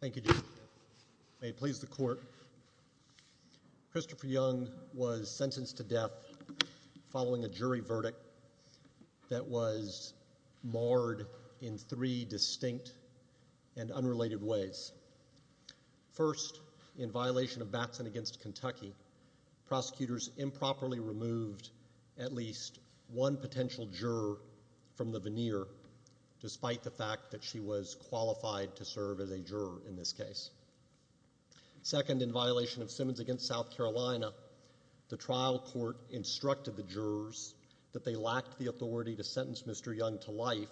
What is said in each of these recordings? Thank you, Jim. May it please the Court, Christopher Young was sentenced to death following a jury First, in violation of Batson v. Kentucky, prosecutors improperly removed at least one potential juror from the veneer, despite the fact that she was qualified to serve as a juror in this case. Second, in violation of Simmons v. South Carolina, the trial court instructed the jurors that they lacked the authority to sentence Mr. Young to life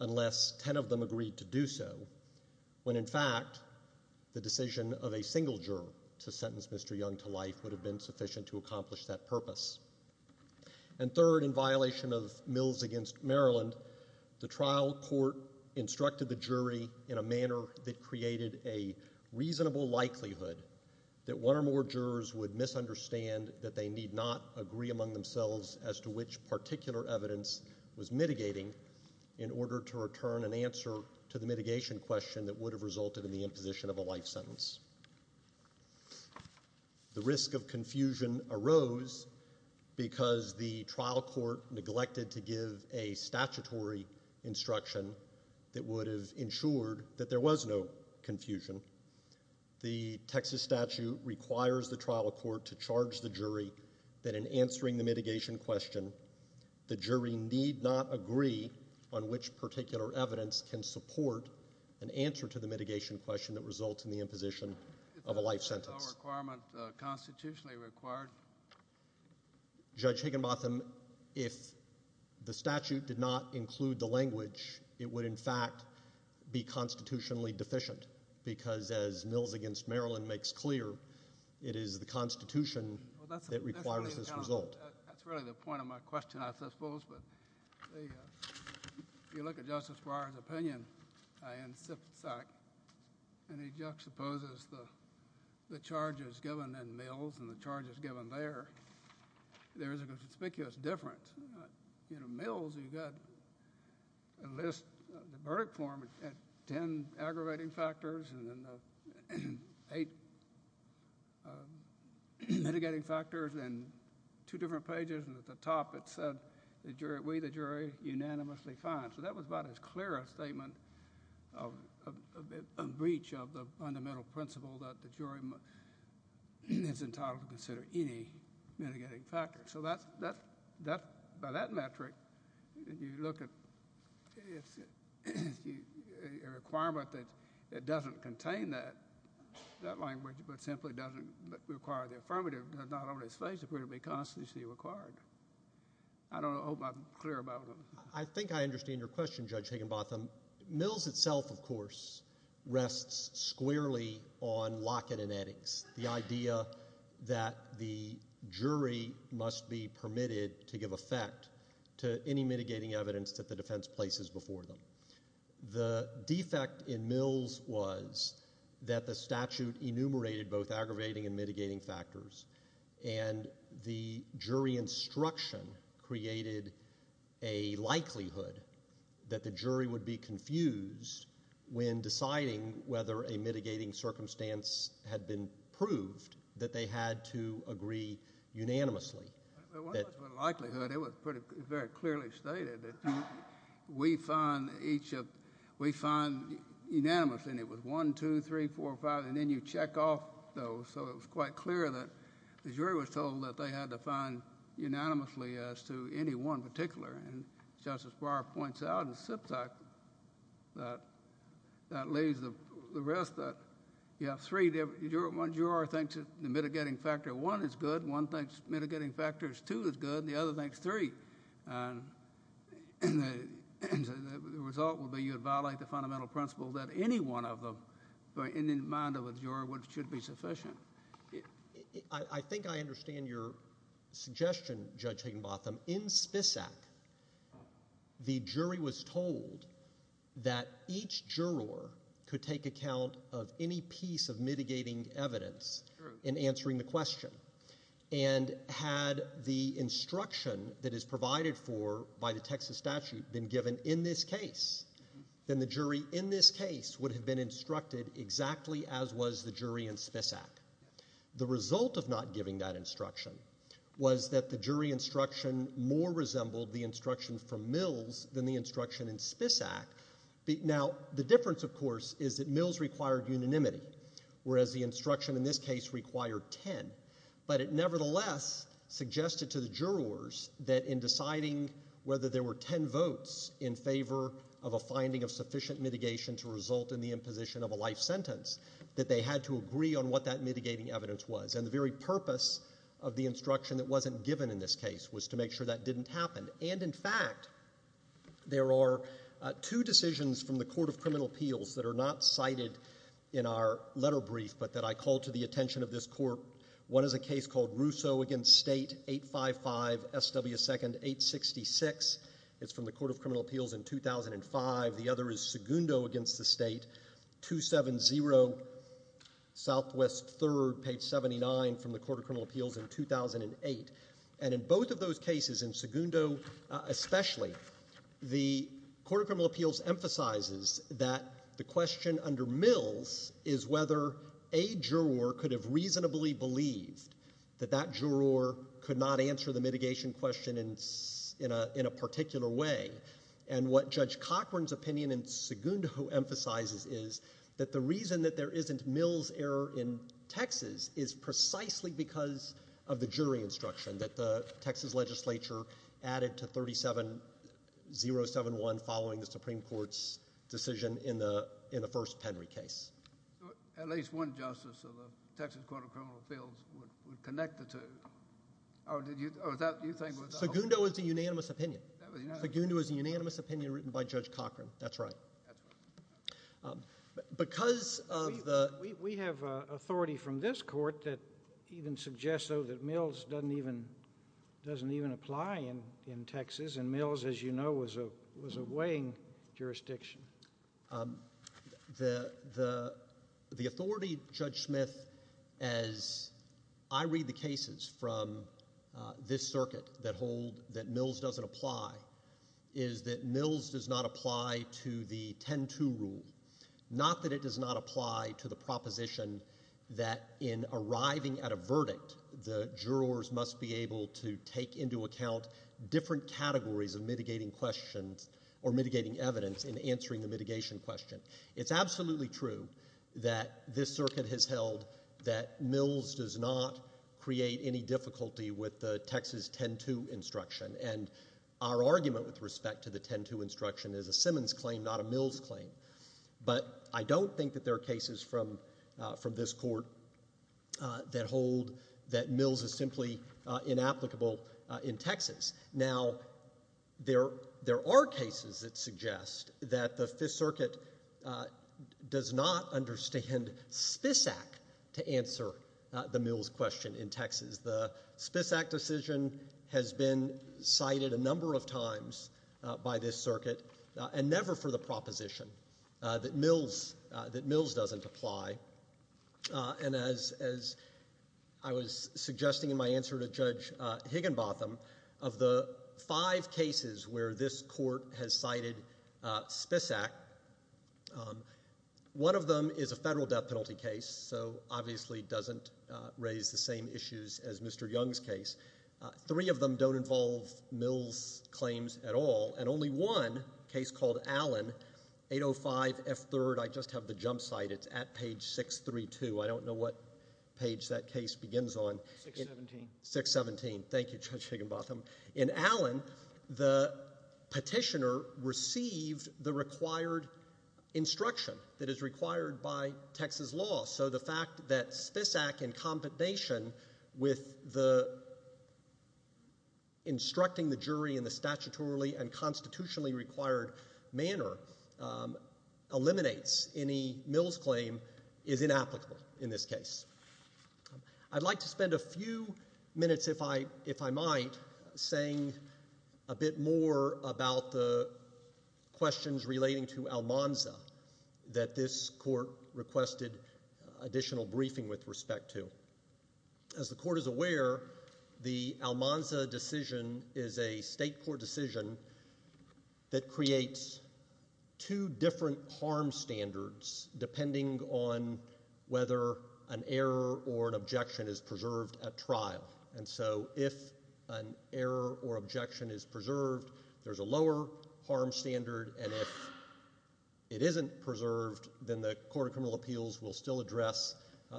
unless ten of them agreed to do so, when in fact the decision of a single juror to sentence Mr. Young to life would have been sufficient to accomplish that purpose. And third, in violation of Mills v. Maryland, the trial court instructed the jury in a manner that created a reasonable likelihood that one or more jurors would misunderstand that they need not agree among themselves as to which particular evidence was mitigating in order to return an answer to the mitigation question that would have resulted in the imposition of a life sentence. The risk of confusion arose because the trial court neglected to give a statutory instruction that would have ensured that there was no confusion. The Texas statute requires the trial court to charge the jury that in answering the mitigation question, the jury need not agree on which particular evidence can support an answer to the mitigation question that results in the imposition of a life sentence. Is no requirement constitutionally required? Judge Higginbotham, if the statute did not include the language, it would in fact be constitutionally deficient because as Mills v. Maryland makes clear, it is the Constitution that requires this result. That's really the point of my question, I suppose, but if you look at Justice Breyer's opinion, and he juxtaposes the charges given in Mills and the charges given there, there is a conspicuous difference. In Mills, you've got a list of the verdict form, 10 aggravating factors, and then eight mitigating factors, and two different pages, and at the top it said, we, the jury, unanimously fine. So that was about as clear a statement of breach of the fundamental principle that the jury is entitled to consider any mitigating factor. So by that metric, if you look at a requirement that doesn't contain that language, but simply doesn't require the affirmative, does not always face to be constitutionally required. I don't know if I'm clear about it. I think I understand your question, Judge Higginbotham. Mills itself, of course, rests squarely on locket and eddings, the idea that the jury must be permitted to give effect to any mitigating evidence that the defense places before them. The defect in Mills was that the statute enumerated both aggravating and mitigating factors, and the jury instruction created a likelihood that the jury would be confused when deciding whether a mitigating circumstance had been proved, that they had to agree unanimously. Well, it wasn't a likelihood. It was very clearly stated that we fine each of, we fine unanimously, and it was one, two, three, four, five, and then you check off those. So it was quite clear that the jury was told that they had to fine unanimously as to any one particular. And Justice Breyer points out in Spisak that lays the rest, that you have three, one juror thinks the mitigating factor one is good, one thinks mitigating factor two is good, and the other thinks three. And the result would be you would violate the fundamental principle that any one of them, in the mind of a juror, should be sufficient. I think I understand your suggestion, Judge Higginbotham. In Spisak, the jury was told that each juror could take account of any piece of mitigating evidence in answering the question. And had the instruction that is provided for by the Texas statute been given in this case, then the jury in this case would have been instructed exactly as was the jury in Spisak. The result of not giving that instruction was that the jury instruction more resembled the instruction from Mills than the instruction in Spisak. Now, the difference, of course, is that Mills required unanimity, whereas the instruction in this case required ten. But it nevertheless suggested to the jurors that in deciding whether there were ten votes in favor of a finding of sufficient mitigation to result in the imposition of a life sentence, that they had to agree on what that mitigating evidence was. And the very purpose of the instruction that wasn't given in this case was to make sure that didn't happen. And, in fact, there are two decisions from the Court of Criminal Appeals that are not cited in our letter brief, but that I call to the attention of this court. One is a case called Russo v. State, 855, SW 2nd, 866. It's from the Court of Criminal Appeals in 2005. The other is Segundo v. State, 270 SW 3rd, page 79, from the Court of Criminal Appeals in 2008. And in both of those cases, in Segundo especially, the Court of Criminal Appeals emphasizes that the question under Mills is whether a juror could have reasonably believed that that juror could not answer the mitigation question in a particular way. And what Judge Cochran's opinion in Segundo emphasizes is that the reason that there isn't Mills' error in Texas is precisely because of the jury instruction that the Texas legislature added to 37071 following the Supreme Court's decision in the first Penry case. At least one justice of the Texas Court of Criminal Appeals would connect the two. Segundo is a unanimous opinion. Segundo is a unanimous opinion written by Judge Cochran. That's right. Because of the – We have authority from this court that even suggests, though, that Mills doesn't even apply in Texas, and Mills, as you know, was a weighing jurisdiction. The authority, Judge Smith, as I read the cases from this circuit that hold that Mills doesn't apply is that Mills does not apply to the 10-2 rule. Not that it does not apply to the proposition that in arriving at a verdict, the jurors must be able to take into account different categories of mitigating questions or mitigating evidence in answering the mitigation question. It's absolutely true that this circuit has held that Mills does not create any difficulty with the Texas 10-2 instruction. And our argument with respect to the 10-2 instruction is a Simmons claim, not a Mills claim. But I don't think that there are cases from this court that hold that Mills is simply inapplicable in Texas. Now, there are cases that suggest that the Fifth Circuit does not understand Spisak to answer the Mills question in Texas. The Spisak decision has been cited a number of times by this circuit, and never for the proposition that Mills doesn't apply. And as I was suggesting in my answer to Judge Higginbotham, of the five cases where this court has cited Spisak, one of them is a federal death penalty case, so obviously doesn't raise the same issues as Mr. Young's case. Three of them don't involve Mills' claims at all, and only one case called Allen, 805F3rd, I just have the jump site, it's at page 632. I don't know what page that case begins on. 617. 617. Thank you, Judge Higginbotham. In Allen, the petitioner received the required instruction that is required by Texas law. So the fact that Spisak, in combination with instructing the jury in the statutorily and constitutionally required manner, eliminates any Mills claim is inapplicable in this case. I'd like to spend a few minutes, if I might, saying a bit more about the questions relating to Almanza that this court requested additional briefing with respect to. As the court is aware, the Almanza decision is a state court decision that creates two different harm standards depending on whether an error or an objection is preserved at trial. And so if an error or objection is preserved, there's a lower harm standard, and if it isn't preserved, then the Court of Criminal Appeals will still address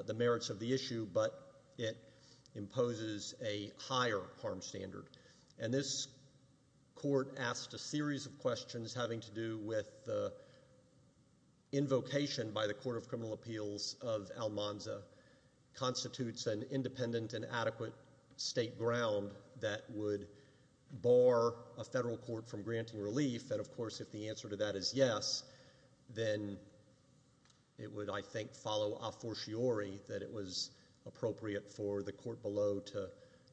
the merits of the issue, but it imposes a higher harm standard. And this court asked a series of questions having to do with the invocation by the Court of Criminal Appeals of Almanza constitutes an independent and adequate state ground that would bar a federal court from granting relief. And, of course, if the answer to that is yes, then it would, I think, follow a fortiori that it was appropriate for the court below to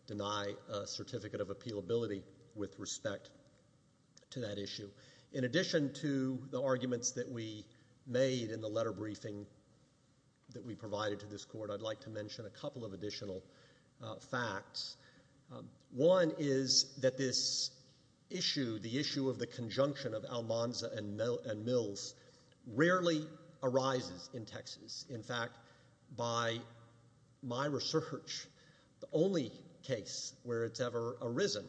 deny a certificate of appealability with respect to that issue. In addition to the arguments that we made in the letter briefing that we provided to this court, I'd like to mention a couple of additional facts. One is that this issue, the issue of the conjunction of Almanza and Mills, rarely arises in Texas. In fact, by my research, the only case where it's ever arisen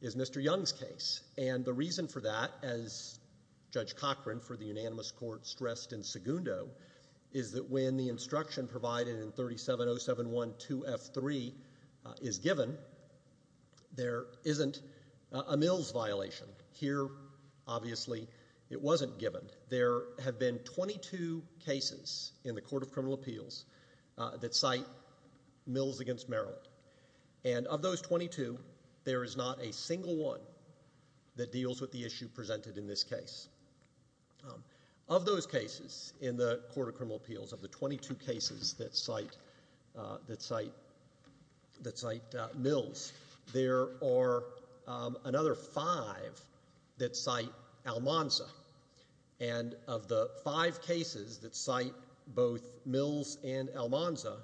is Mr. Young's case, and the reason for that, as Judge Cochran for the unanimous court stressed in Segundo, is that when the instruction provided in 370712F3 is given, there isn't a Mills violation. Here, obviously, it wasn't given. There have been 22 cases in the Court of Criminal Appeals that cite Mills against Maryland, and of those 22, there is not a single one that deals with the issue presented in this case. Of those cases in the Court of Criminal Appeals, of the 22 cases that cite Mills, there are another five that cite Almanza, and of the five cases that cite both Mills and Almanza,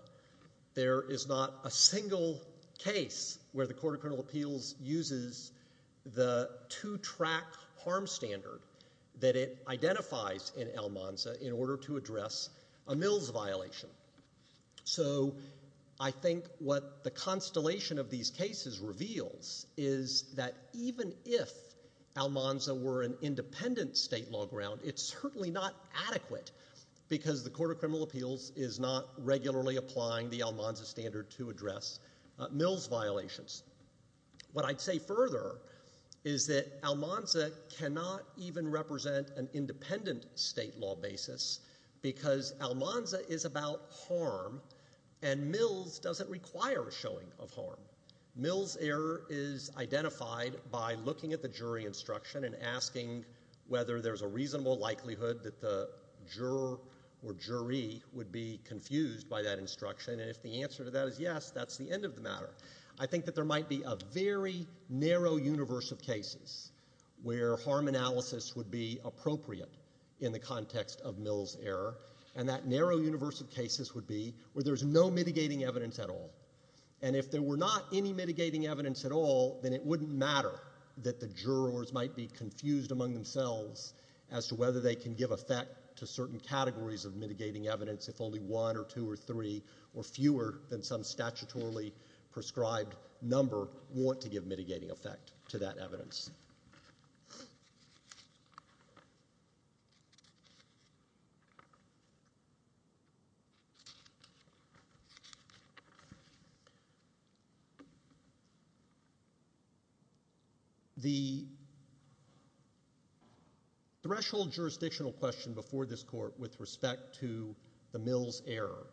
there is not a single case where the Court of Criminal Appeals uses the two-track harm standard that it identifies in Almanza in order to address a Mills violation. So I think what the constellation of these cases reveals is that even if Almanza were an independent state law ground, it's certainly not adequate because the Court of Criminal Appeals is not regularly applying the Almanza standard to address Mills violations. What I'd say further is that Almanza cannot even represent an independent state law basis because Almanza is about harm and Mills doesn't require a showing of harm. Mills' error is identified by looking at the jury instruction and asking whether there's a reasonable likelihood that the juror or jury would be confused by that instruction, and if the answer to that is yes, that's the end of the matter. I think that there might be a very narrow universe of cases where harm analysis would be appropriate in the context of Mills' error, and that narrow universe of cases would be where there's no mitigating evidence at all. The threshold jurisdictional question before this court with respect to the Mills' error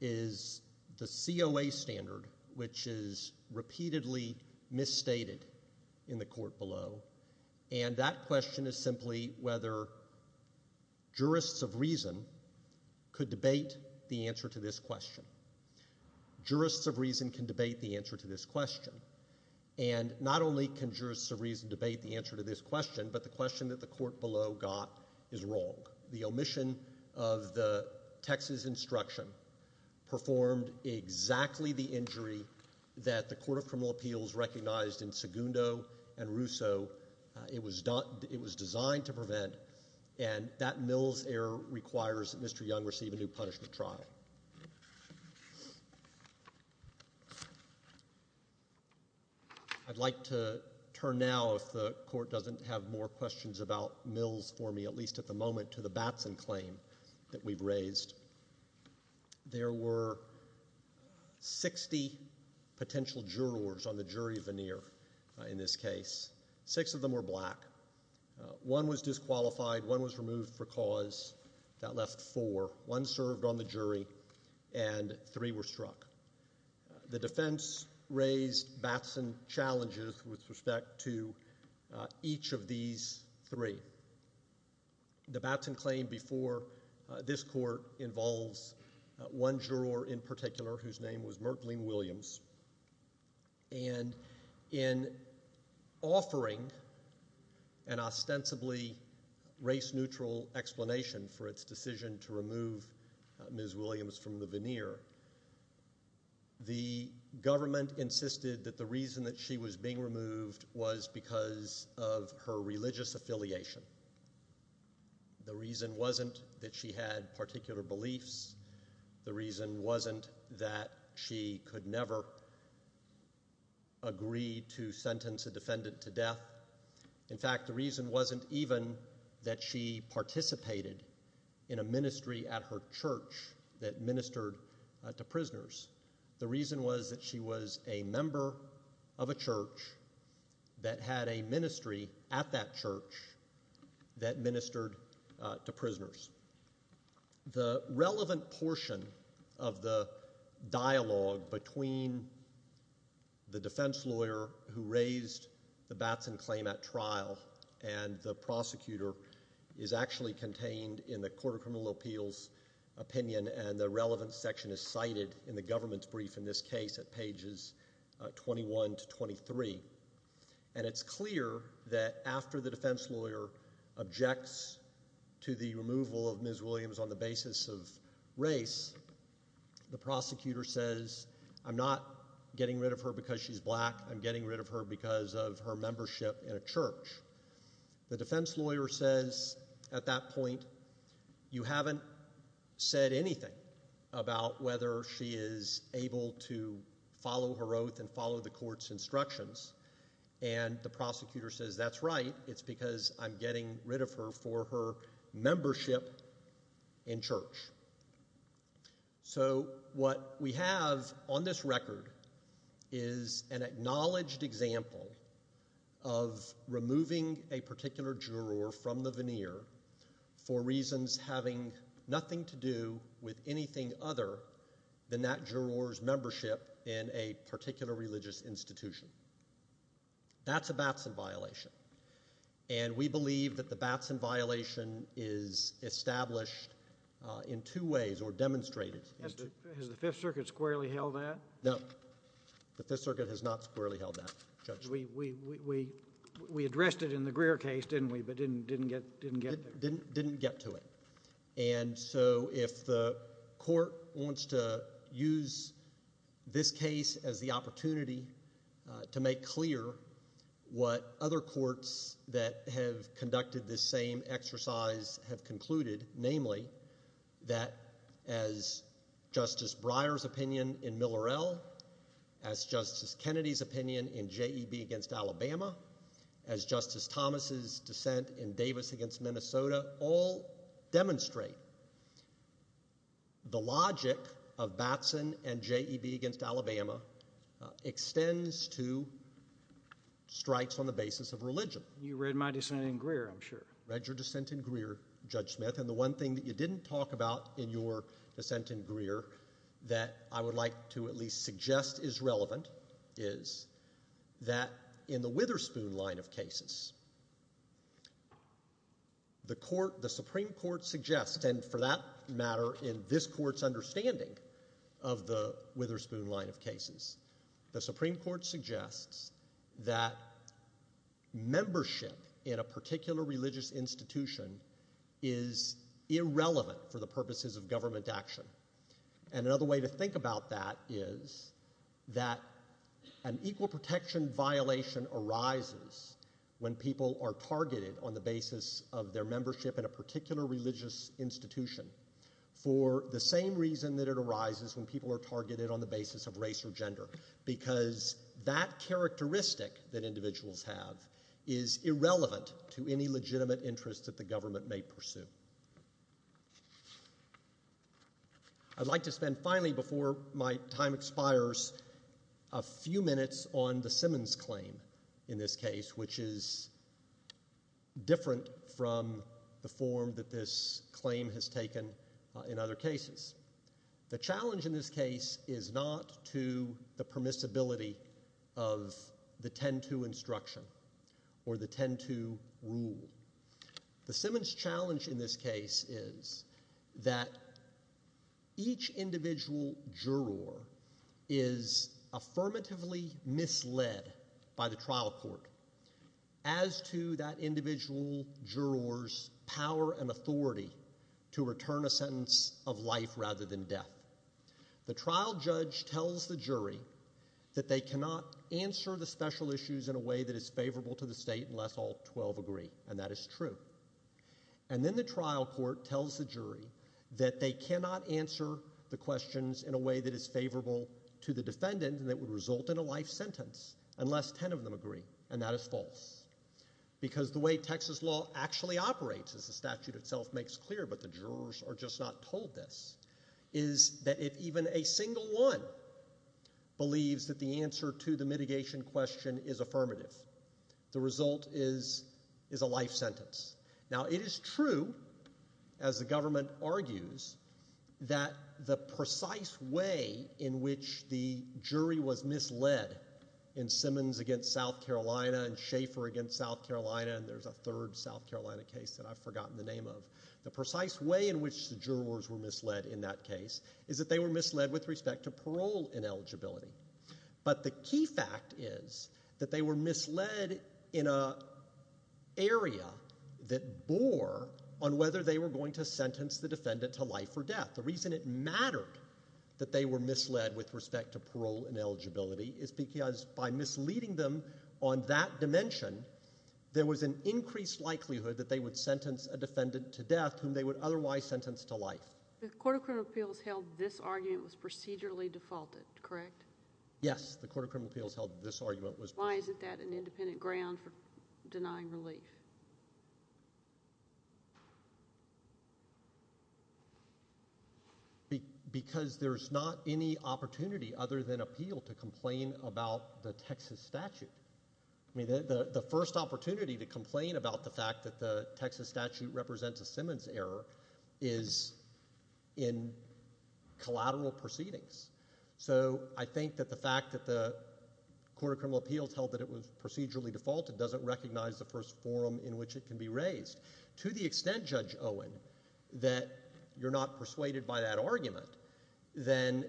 is the COA standard, which is repeatedly misstated in the court below, and that question is simply whether jurists of reason could debate the answer to this question. Jurists of reason can debate the answer to this question, and not only can jurists of reason debate the answer to this question, but the question that the court below got is wrong. The omission of the Texas instruction performed exactly the injury that the Court of Criminal Appeals recognized in Segundo and Russo. It was designed to prevent, and that Mills' error requires that Mr. Young receive a new punishment trial. I'd like to turn now, if the court doesn't have more questions about Mills for me, at least at the moment, to the Batson claim that we've raised. There were 60 potential jurors on the jury veneer in this case. Six of them were black. One was disqualified. One was removed for cause. That left four. One served on the jury, and three were struck. The defense raised Batson challenges with respect to each of these three. The Batson claim before this court involves one juror in particular whose name was Myrtleene Williams. In offering an ostensibly race-neutral explanation for its decision to remove Ms. Williams from the veneer, the government insisted that the reason that she was being removed was because of her religious affiliation. The reason wasn't that she had particular beliefs. The reason wasn't that she could never agree to sentence a defendant to death. In fact, the reason wasn't even that she participated in a ministry at her church that ministered to prisoners. The reason was that she was a member of a church that had a ministry at that church that ministered to prisoners. The relevant portion of the dialogue between the defense lawyer who raised the Batson claim at trial and the prosecutor is actually contained in the Court of Criminal Appeals opinion, and the relevant section is cited in the government's brief in this case at pages 21 to 23. And it's clear that after the defense lawyer objects to the removal of Ms. Williams on the basis of race, the prosecutor says, I'm not getting rid of her because she's black, I'm getting rid of her because of her membership in a church. The defense lawyer says at that point, you haven't said anything about whether she is able to follow her oath and follow the court's instructions, and the prosecutor says that's right, it's because I'm getting rid of her for her membership in church. So what we have on this record is an acknowledged example of removing a particular juror from the veneer for reasons having nothing to do with anything other than that juror's membership in a particular religious institution. That's a Batson violation, and we believe that the Batson violation is established in two ways or demonstrated in two ways. Has the Fifth Circuit squarely held that? No, the Fifth Circuit has not squarely held that, Judge. We addressed it in the Greer case, didn't we, but didn't get there? And so if the court wants to use this case as the opportunity to make clear what other courts that have conducted this same exercise have concluded, namely that as Justice Breyer's opinion in Miller-El, as Justice Kennedy's opinion in JEB against Alabama, as Justice Thomas' dissent in Davis against Minnesota, all demonstrate the logic of Batson and JEB against Alabama extends to strikes on the basis of religion. You read my dissent in Greer, I'm sure. Read your dissent in Greer, Judge Smith, and the one thing that you didn't talk about in your dissent in Greer that I would like to at least suggest is relevant is that in the Witherspoon line of cases, the Supreme Court suggests, and for that matter in this court's understanding of the Witherspoon line of cases, the Supreme Court suggests that membership in a particular religious institution is irrelevant for the purposes of government action. And another way to think about that is that an equal protection violation arises when people are targeted on the basis of their membership in a particular religious institution for the same reason that it arises when people are targeted on the basis of race or gender, because that characteristic that individuals have is irrelevant to any legitimate interest that the government may pursue. I'd like to spend, finally, before my time expires, a few minutes on the Simmons claim in this case, which is different from the form that this claim has taken in other cases. The challenge in this case is not to the permissibility of the 10-2 instruction or the 10-2 rule. The Simmons challenge in this case is that each individual juror is affirmatively misled by the trial court as to that individual juror's power and authority to return a sentence of life rather than death. The trial judge tells the jury that they cannot answer the special issues in a way that is favorable to the state unless all 12 agree, and that is true. And then the trial court tells the jury that they cannot answer the questions in a way that is favorable to the defendant and that would result in a life sentence unless 10 of them agree, and that is false. Because the way Texas law actually operates, as the statute itself makes clear, but the jurors are just not told this, is that if even a single one believes that the answer to the mitigation question is affirmative, the result is a life sentence. Now, it is true, as the government argues, that the precise way in which the jury was misled in Simmons against South Carolina and Schaefer against South Carolina, and there's a third South Carolina case that I've forgotten the name of, the precise way in which the jurors were misled in that case is that they were misled with respect to parole ineligibility. But the key fact is that they were misled in an area that bore on whether they were going to sentence the defendant to life or death. The reason it mattered that they were misled with respect to parole ineligibility is because by misleading them on that dimension, there was an increased likelihood that they would sentence a defendant to death whom they would otherwise sentence to life. The Court of Criminal Appeals held this argument was procedurally defaulted, correct? Yes, the Court of Criminal Appeals held this argument was procedurally defaulted. Why isn't that an independent ground for denying relief? Because there's not any opportunity other than appeal to complain about the Texas statute. I mean the first opportunity to complain about the fact that the Texas statute represents a Simmons error is in collateral proceedings. So I think that the fact that the Court of Criminal Appeals held that it was procedurally defaulted doesn't recognize the first forum in which it can be raised. To the extent, Judge Owen, that you're not persuaded by that argument, then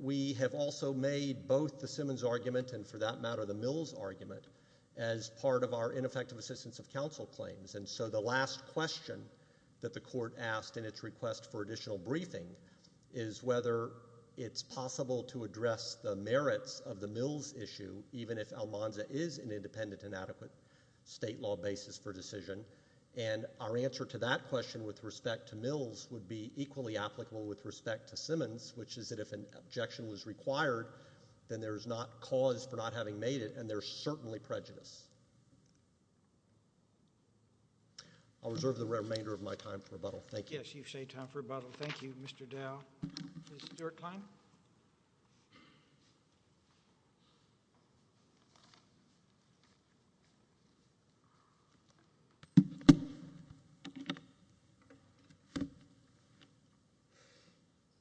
we have also made both the Simmons argument and for that matter the Mills argument as part of our ineffective assistance of counsel claims. So the last question that the Court asked in its request for additional briefing is whether it's possible to address the merits of the Mills issue even if Almanza is an independent and adequate state law basis for decision. And our answer to that question with respect to Mills would be equally applicable with respect to Simmons, which is that if an objection was required, then there's not cause for not having made it and there's certainly prejudice. I'll reserve the remainder of my time for rebuttal. Thank you. Yes, you've saved time for rebuttal. Thank you, Mr. Dow. Ms. Stewart-Klein?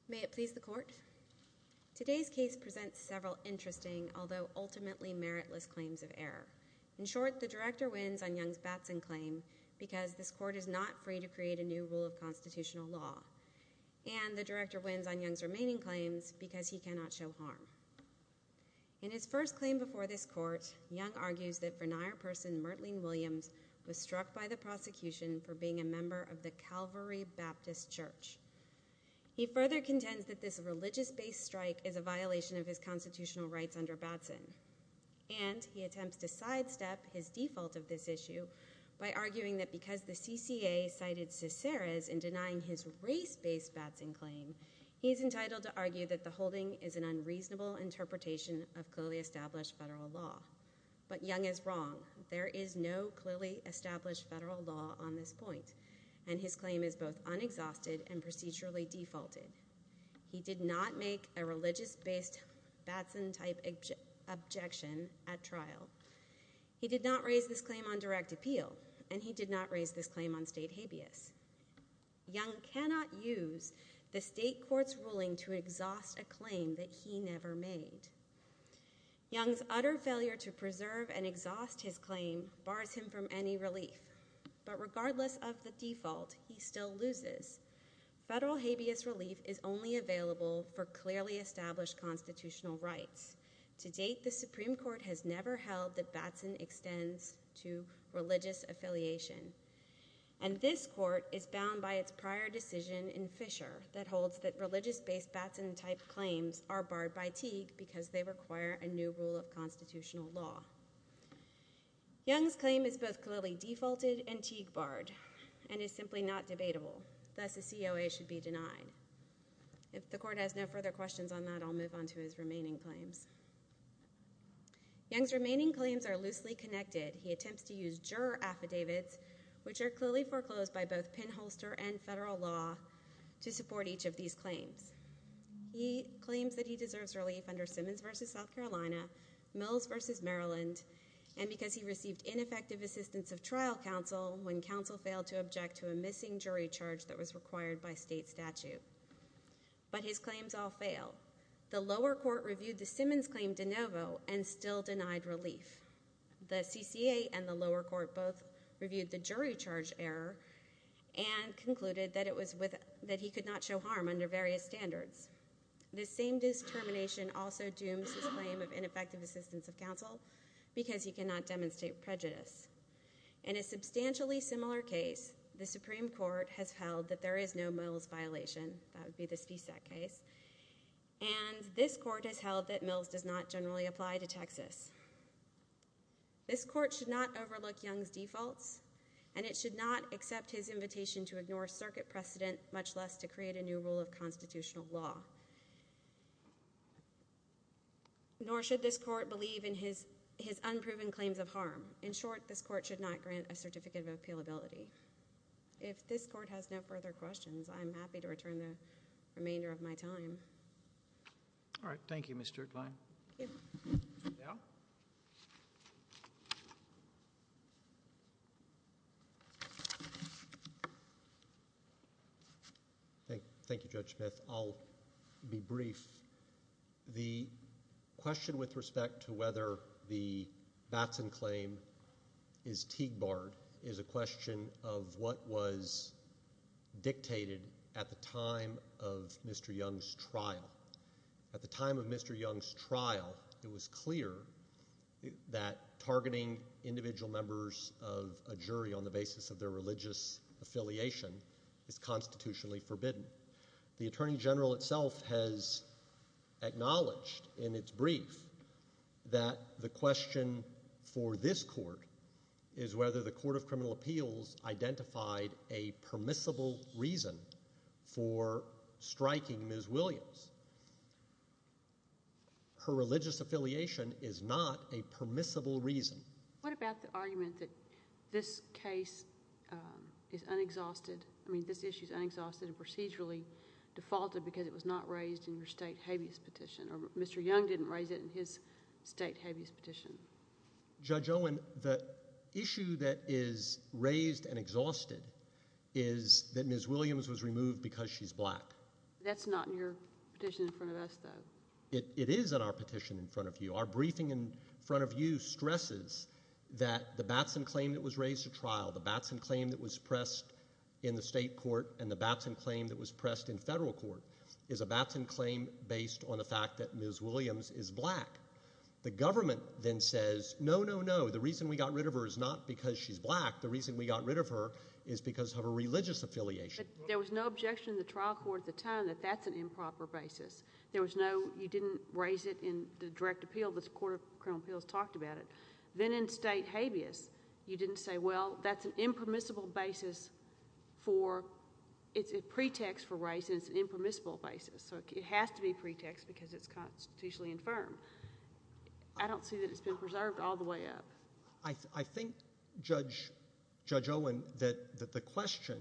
May it please the Court? Today's case presents several interesting, although ultimately meritless, claims of error. In short, the director wins on Young's Batson claim because this court is not free to create a new rule of constitutional law. And the director wins on Young's remaining claims because he cannot show harm. In his first claim before this court, Young argues that Vernier person Myrtleen Williams was struck by the prosecution for being a member of the Calvary Baptist Church. He further contends that this religious-based strike is a violation of his constitutional rights under Batson. And he attempts to sidestep his default of this issue by arguing that because the CCA cited Ciceras in denying his race-based Batson claim, he's entitled to argue that the holding is an unreasonable interpretation of clearly established federal law. But Young is wrong. There is no clearly established federal law on this point, and his claim is both unexhausted and procedurally defaulted. He did not make a religious-based Batson-type objection at trial. He did not raise this claim on direct appeal, and he did not raise this claim on state habeas. Young cannot use the state court's ruling to exhaust a claim that he never made. Young's utter failure to preserve and exhaust his claim bars him from any relief. But regardless of the default, he still loses. Federal habeas relief is only available for clearly established constitutional rights. To date, the Supreme Court has never held that Batson extends to religious affiliation. And this court is bound by its prior decision in Fisher that holds that religious-based Batson-type claims are barred by Teague because they require a new rule of constitutional law. Young's claim is both clearly defaulted and Teague-barred, and is simply not debatable. Thus, the COA should be denied. If the court has no further questions on that, I'll move on to his remaining claims. Young's remaining claims are loosely connected. He attempts to use juror affidavits, which are clearly foreclosed by both pinholster and federal law, to support each of these claims. He claims that he deserves relief under Simmons v. South Carolina, Mills v. Maryland, and because he received ineffective assistance of trial counsel when counsel failed to object to a missing jury charge that was required by state statute. But his claims all fail. The lower court reviewed the Simmons claim de novo and still denied relief. The CCA and the lower court both reviewed the jury charge error and concluded that he could not show harm under various standards. This same determination also dooms his claim of ineffective assistance of counsel because he cannot demonstrate prejudice. In a substantially similar case, the Supreme Court has held that there is no Mills violation. And this court has held that Mills does not generally apply to Texas. This court should not overlook Young's defaults, and it should not accept his invitation to ignore circuit precedent, much less to create a new rule of constitutional law. Nor should this court believe in his unproven claims of harm. In short, this court should not grant a certificate of appealability. If this court has no further questions, I'm happy to return the remainder of my time. All right. Thank you, Mr. Klein. Thank you, Judge Smith. I'll be brief. The question with respect to whether the Batson claim is TIGBARD is a question of what was dictated at the time of Mr. Young's trial. At the time of Mr. Young's trial, it was clear that targeting individual members of a jury on the basis of their religious affiliation is constitutionally forbidden. The attorney general itself has acknowledged in its brief that the question for this court is whether the Court of Criminal Appeals identified a permissible reason for striking Ms. Williams. Her religious affiliation is not a permissible reason. What about the argument that this case is unexhausted? I mean this issue is unexhausted and procedurally defaulted because it was not raised in your state habeas petition, or Mr. Young didn't raise it in his state habeas petition. Judge Owen, the issue that is raised and exhausted is that Ms. Williams was removed because she's black. That's not in your petition in front of us, though. It is in our petition in front of you. Our briefing in front of you stresses that the Batson claim that was raised at trial, the Batson claim that was pressed in the state court, and the Batson claim that was pressed in federal court is a Batson claim based on the fact that Ms. Williams is black. The government then says, no, no, no, the reason we got rid of her is not because she's black. The reason we got rid of her is because of her religious affiliation. But there was no objection in the trial court at the time that that's an improper basis. There was no—you didn't raise it in the direct appeal. The court of criminal appeals talked about it. Then in state habeas, you didn't say, well, that's an impermissible basis for—it's a pretext for race and it's an impermissible basis. So it has to be a pretext because it's constitutionally infirm. I don't see that it's been preserved all the way up. I think, Judge Owen, that the question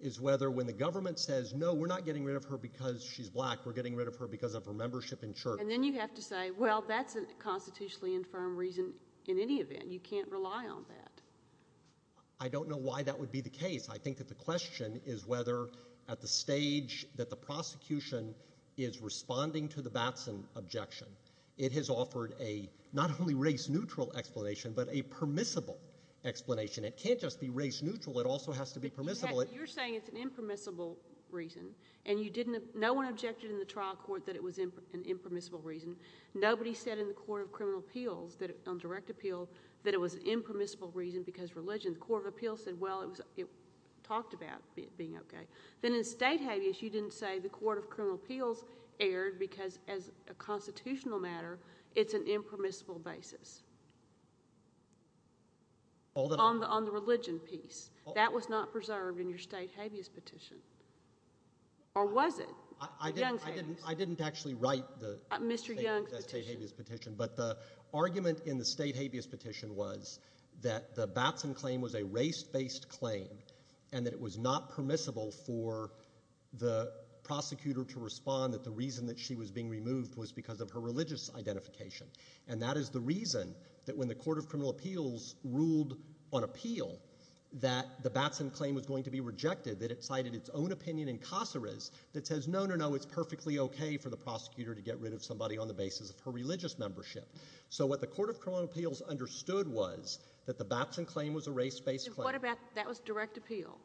is whether when the government says, no, we're not getting rid of her because she's black. We're getting rid of her because of her membership in church. And then you have to say, well, that's a constitutionally infirm reason in any event. You can't rely on that. I don't know why that would be the case. I think that the question is whether at the stage that the prosecution is responding to the Batson objection, it has offered a not only race-neutral explanation but a permissible explanation. It can't just be race-neutral. It also has to be permissible. You're saying it's an impermissible reason. And you didn't—no one objected in the trial court that it was an impermissible reason. Nobody said in the court of criminal appeals, on direct appeal, that it was an impermissible reason because religion. The court of appeals said, well, it talked about being okay. Then in state habeas, you didn't say the court of criminal appeals erred because as a constitutional matter, it's an impermissible basis on the religion piece. That was not preserved in your state habeas petition. Or was it? Young's habeas. I didn't actually write the state habeas petition. Mr. Young's petition. But the argument in the state habeas petition was that the Batson claim was a race-based claim and that it was not permissible for the prosecutor to respond, that the reason that she was being removed was because of her religious identification. And that is the reason that when the court of criminal appeals ruled on appeal that the Batson claim was going to be rejected, that it cited its own opinion in Caceres that says, no, no, no, it's perfectly okay for the prosecutor to get rid of somebody on the basis of her religious membership. So what the court of criminal appeals understood was that the Batson claim was a race-based claim. What about that was direct appeal?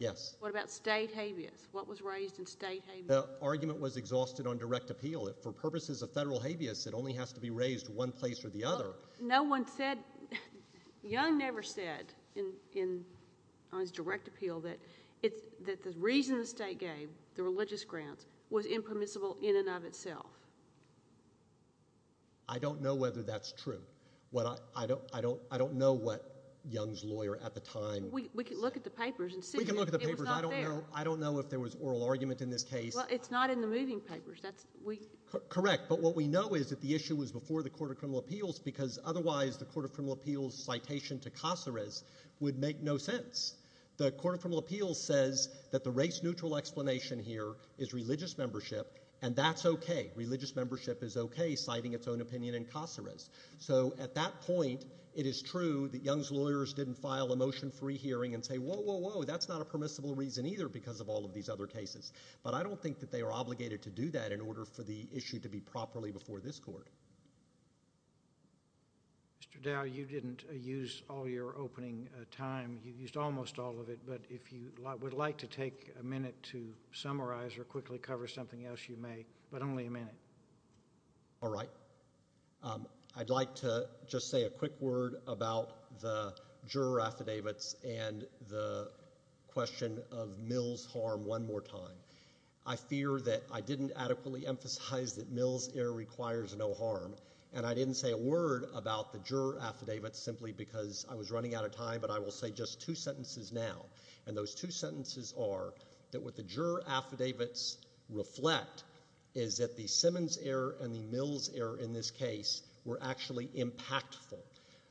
Yes. What about state habeas? What was raised in state habeas? The argument was exhausted on direct appeal. For purposes of federal habeas, it only has to be raised one place or the other. No one said, Young never said on his direct appeal that the reason the state gave the religious grounds was impermissible in and of itself. I don't know whether that's true. I don't know what Young's lawyer at the time said. We can look at the papers and see. We can look at the papers. I don't know if there was oral argument in this case. It's not in the moving papers. Correct. But what we know is that the issue was before the court of criminal appeals because otherwise the court of criminal appeals citation to Caceres would make no sense. The court of criminal appeals says that the race-neutral explanation here is religious membership, and that's okay. Religious membership is okay citing its own opinion in Caceres. So at that point, it is true that Young's lawyers didn't file a motion for rehearing and say, whoa, whoa, whoa, that's not a permissible reason either because of all of these other cases. But I don't think that they were obligated to do that in order for the issue to be properly before this court. Mr. Dow, you didn't use all your opening time. You used almost all of it. But if you would like to take a minute to summarize or quickly cover something else, you may, but only a minute. All right. I'd like to just say a quick word about the juror affidavits and the question of Mill's harm one more time. I fear that I didn't adequately emphasize that Mill's error requires no harm, and I didn't say a word about the juror affidavits simply because I was running out of time. But I will say just two sentences now. And those two sentences are that what the juror affidavits reflect is that the Simmons error and the Mills error in this case were actually impactful.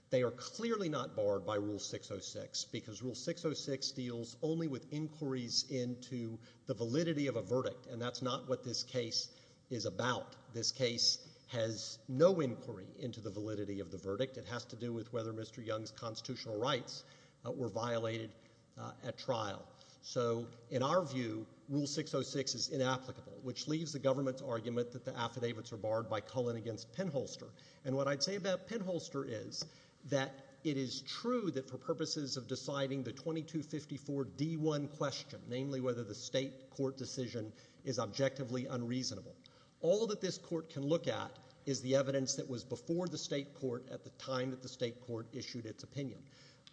They are clearly not barred by Rule 606 because Rule 606 deals only with inquiries into the validity of a verdict, and that's not what this case is about. This case has no inquiry into the validity of the verdict. It has to do with whether Mr. Young's constitutional rights were violated at trial. So in our view, Rule 606 is inapplicable, which leaves the government's argument that the affidavits are barred by Cullen against Penholster. And what I'd say about Penholster is that it is true that for purposes of deciding the 2254D1 question, namely whether the state court decision is objectively unreasonable, all that this court can look at is the evidence that was before the state court at the time that the state court issued its opinion.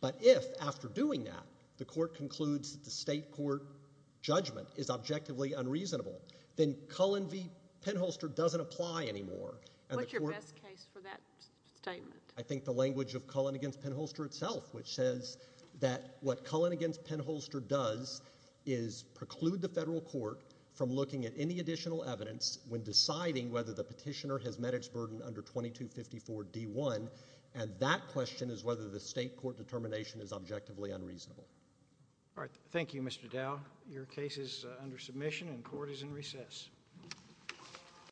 But if, after doing that, the court concludes that the state court judgment is objectively unreasonable, then Cullen v. Penholster doesn't apply anymore. What's your best case for that statement? I think the language of Cullen v. Penholster itself, which says that what Cullen v. Penholster does is preclude the federal court from looking at any additional evidence when deciding whether the petitioner has met its burden under 2254D1, and that question is whether the state court determination is objectively unreasonable. All right. Thank you, Mr. Dow. Your case is under submission and court is in recess.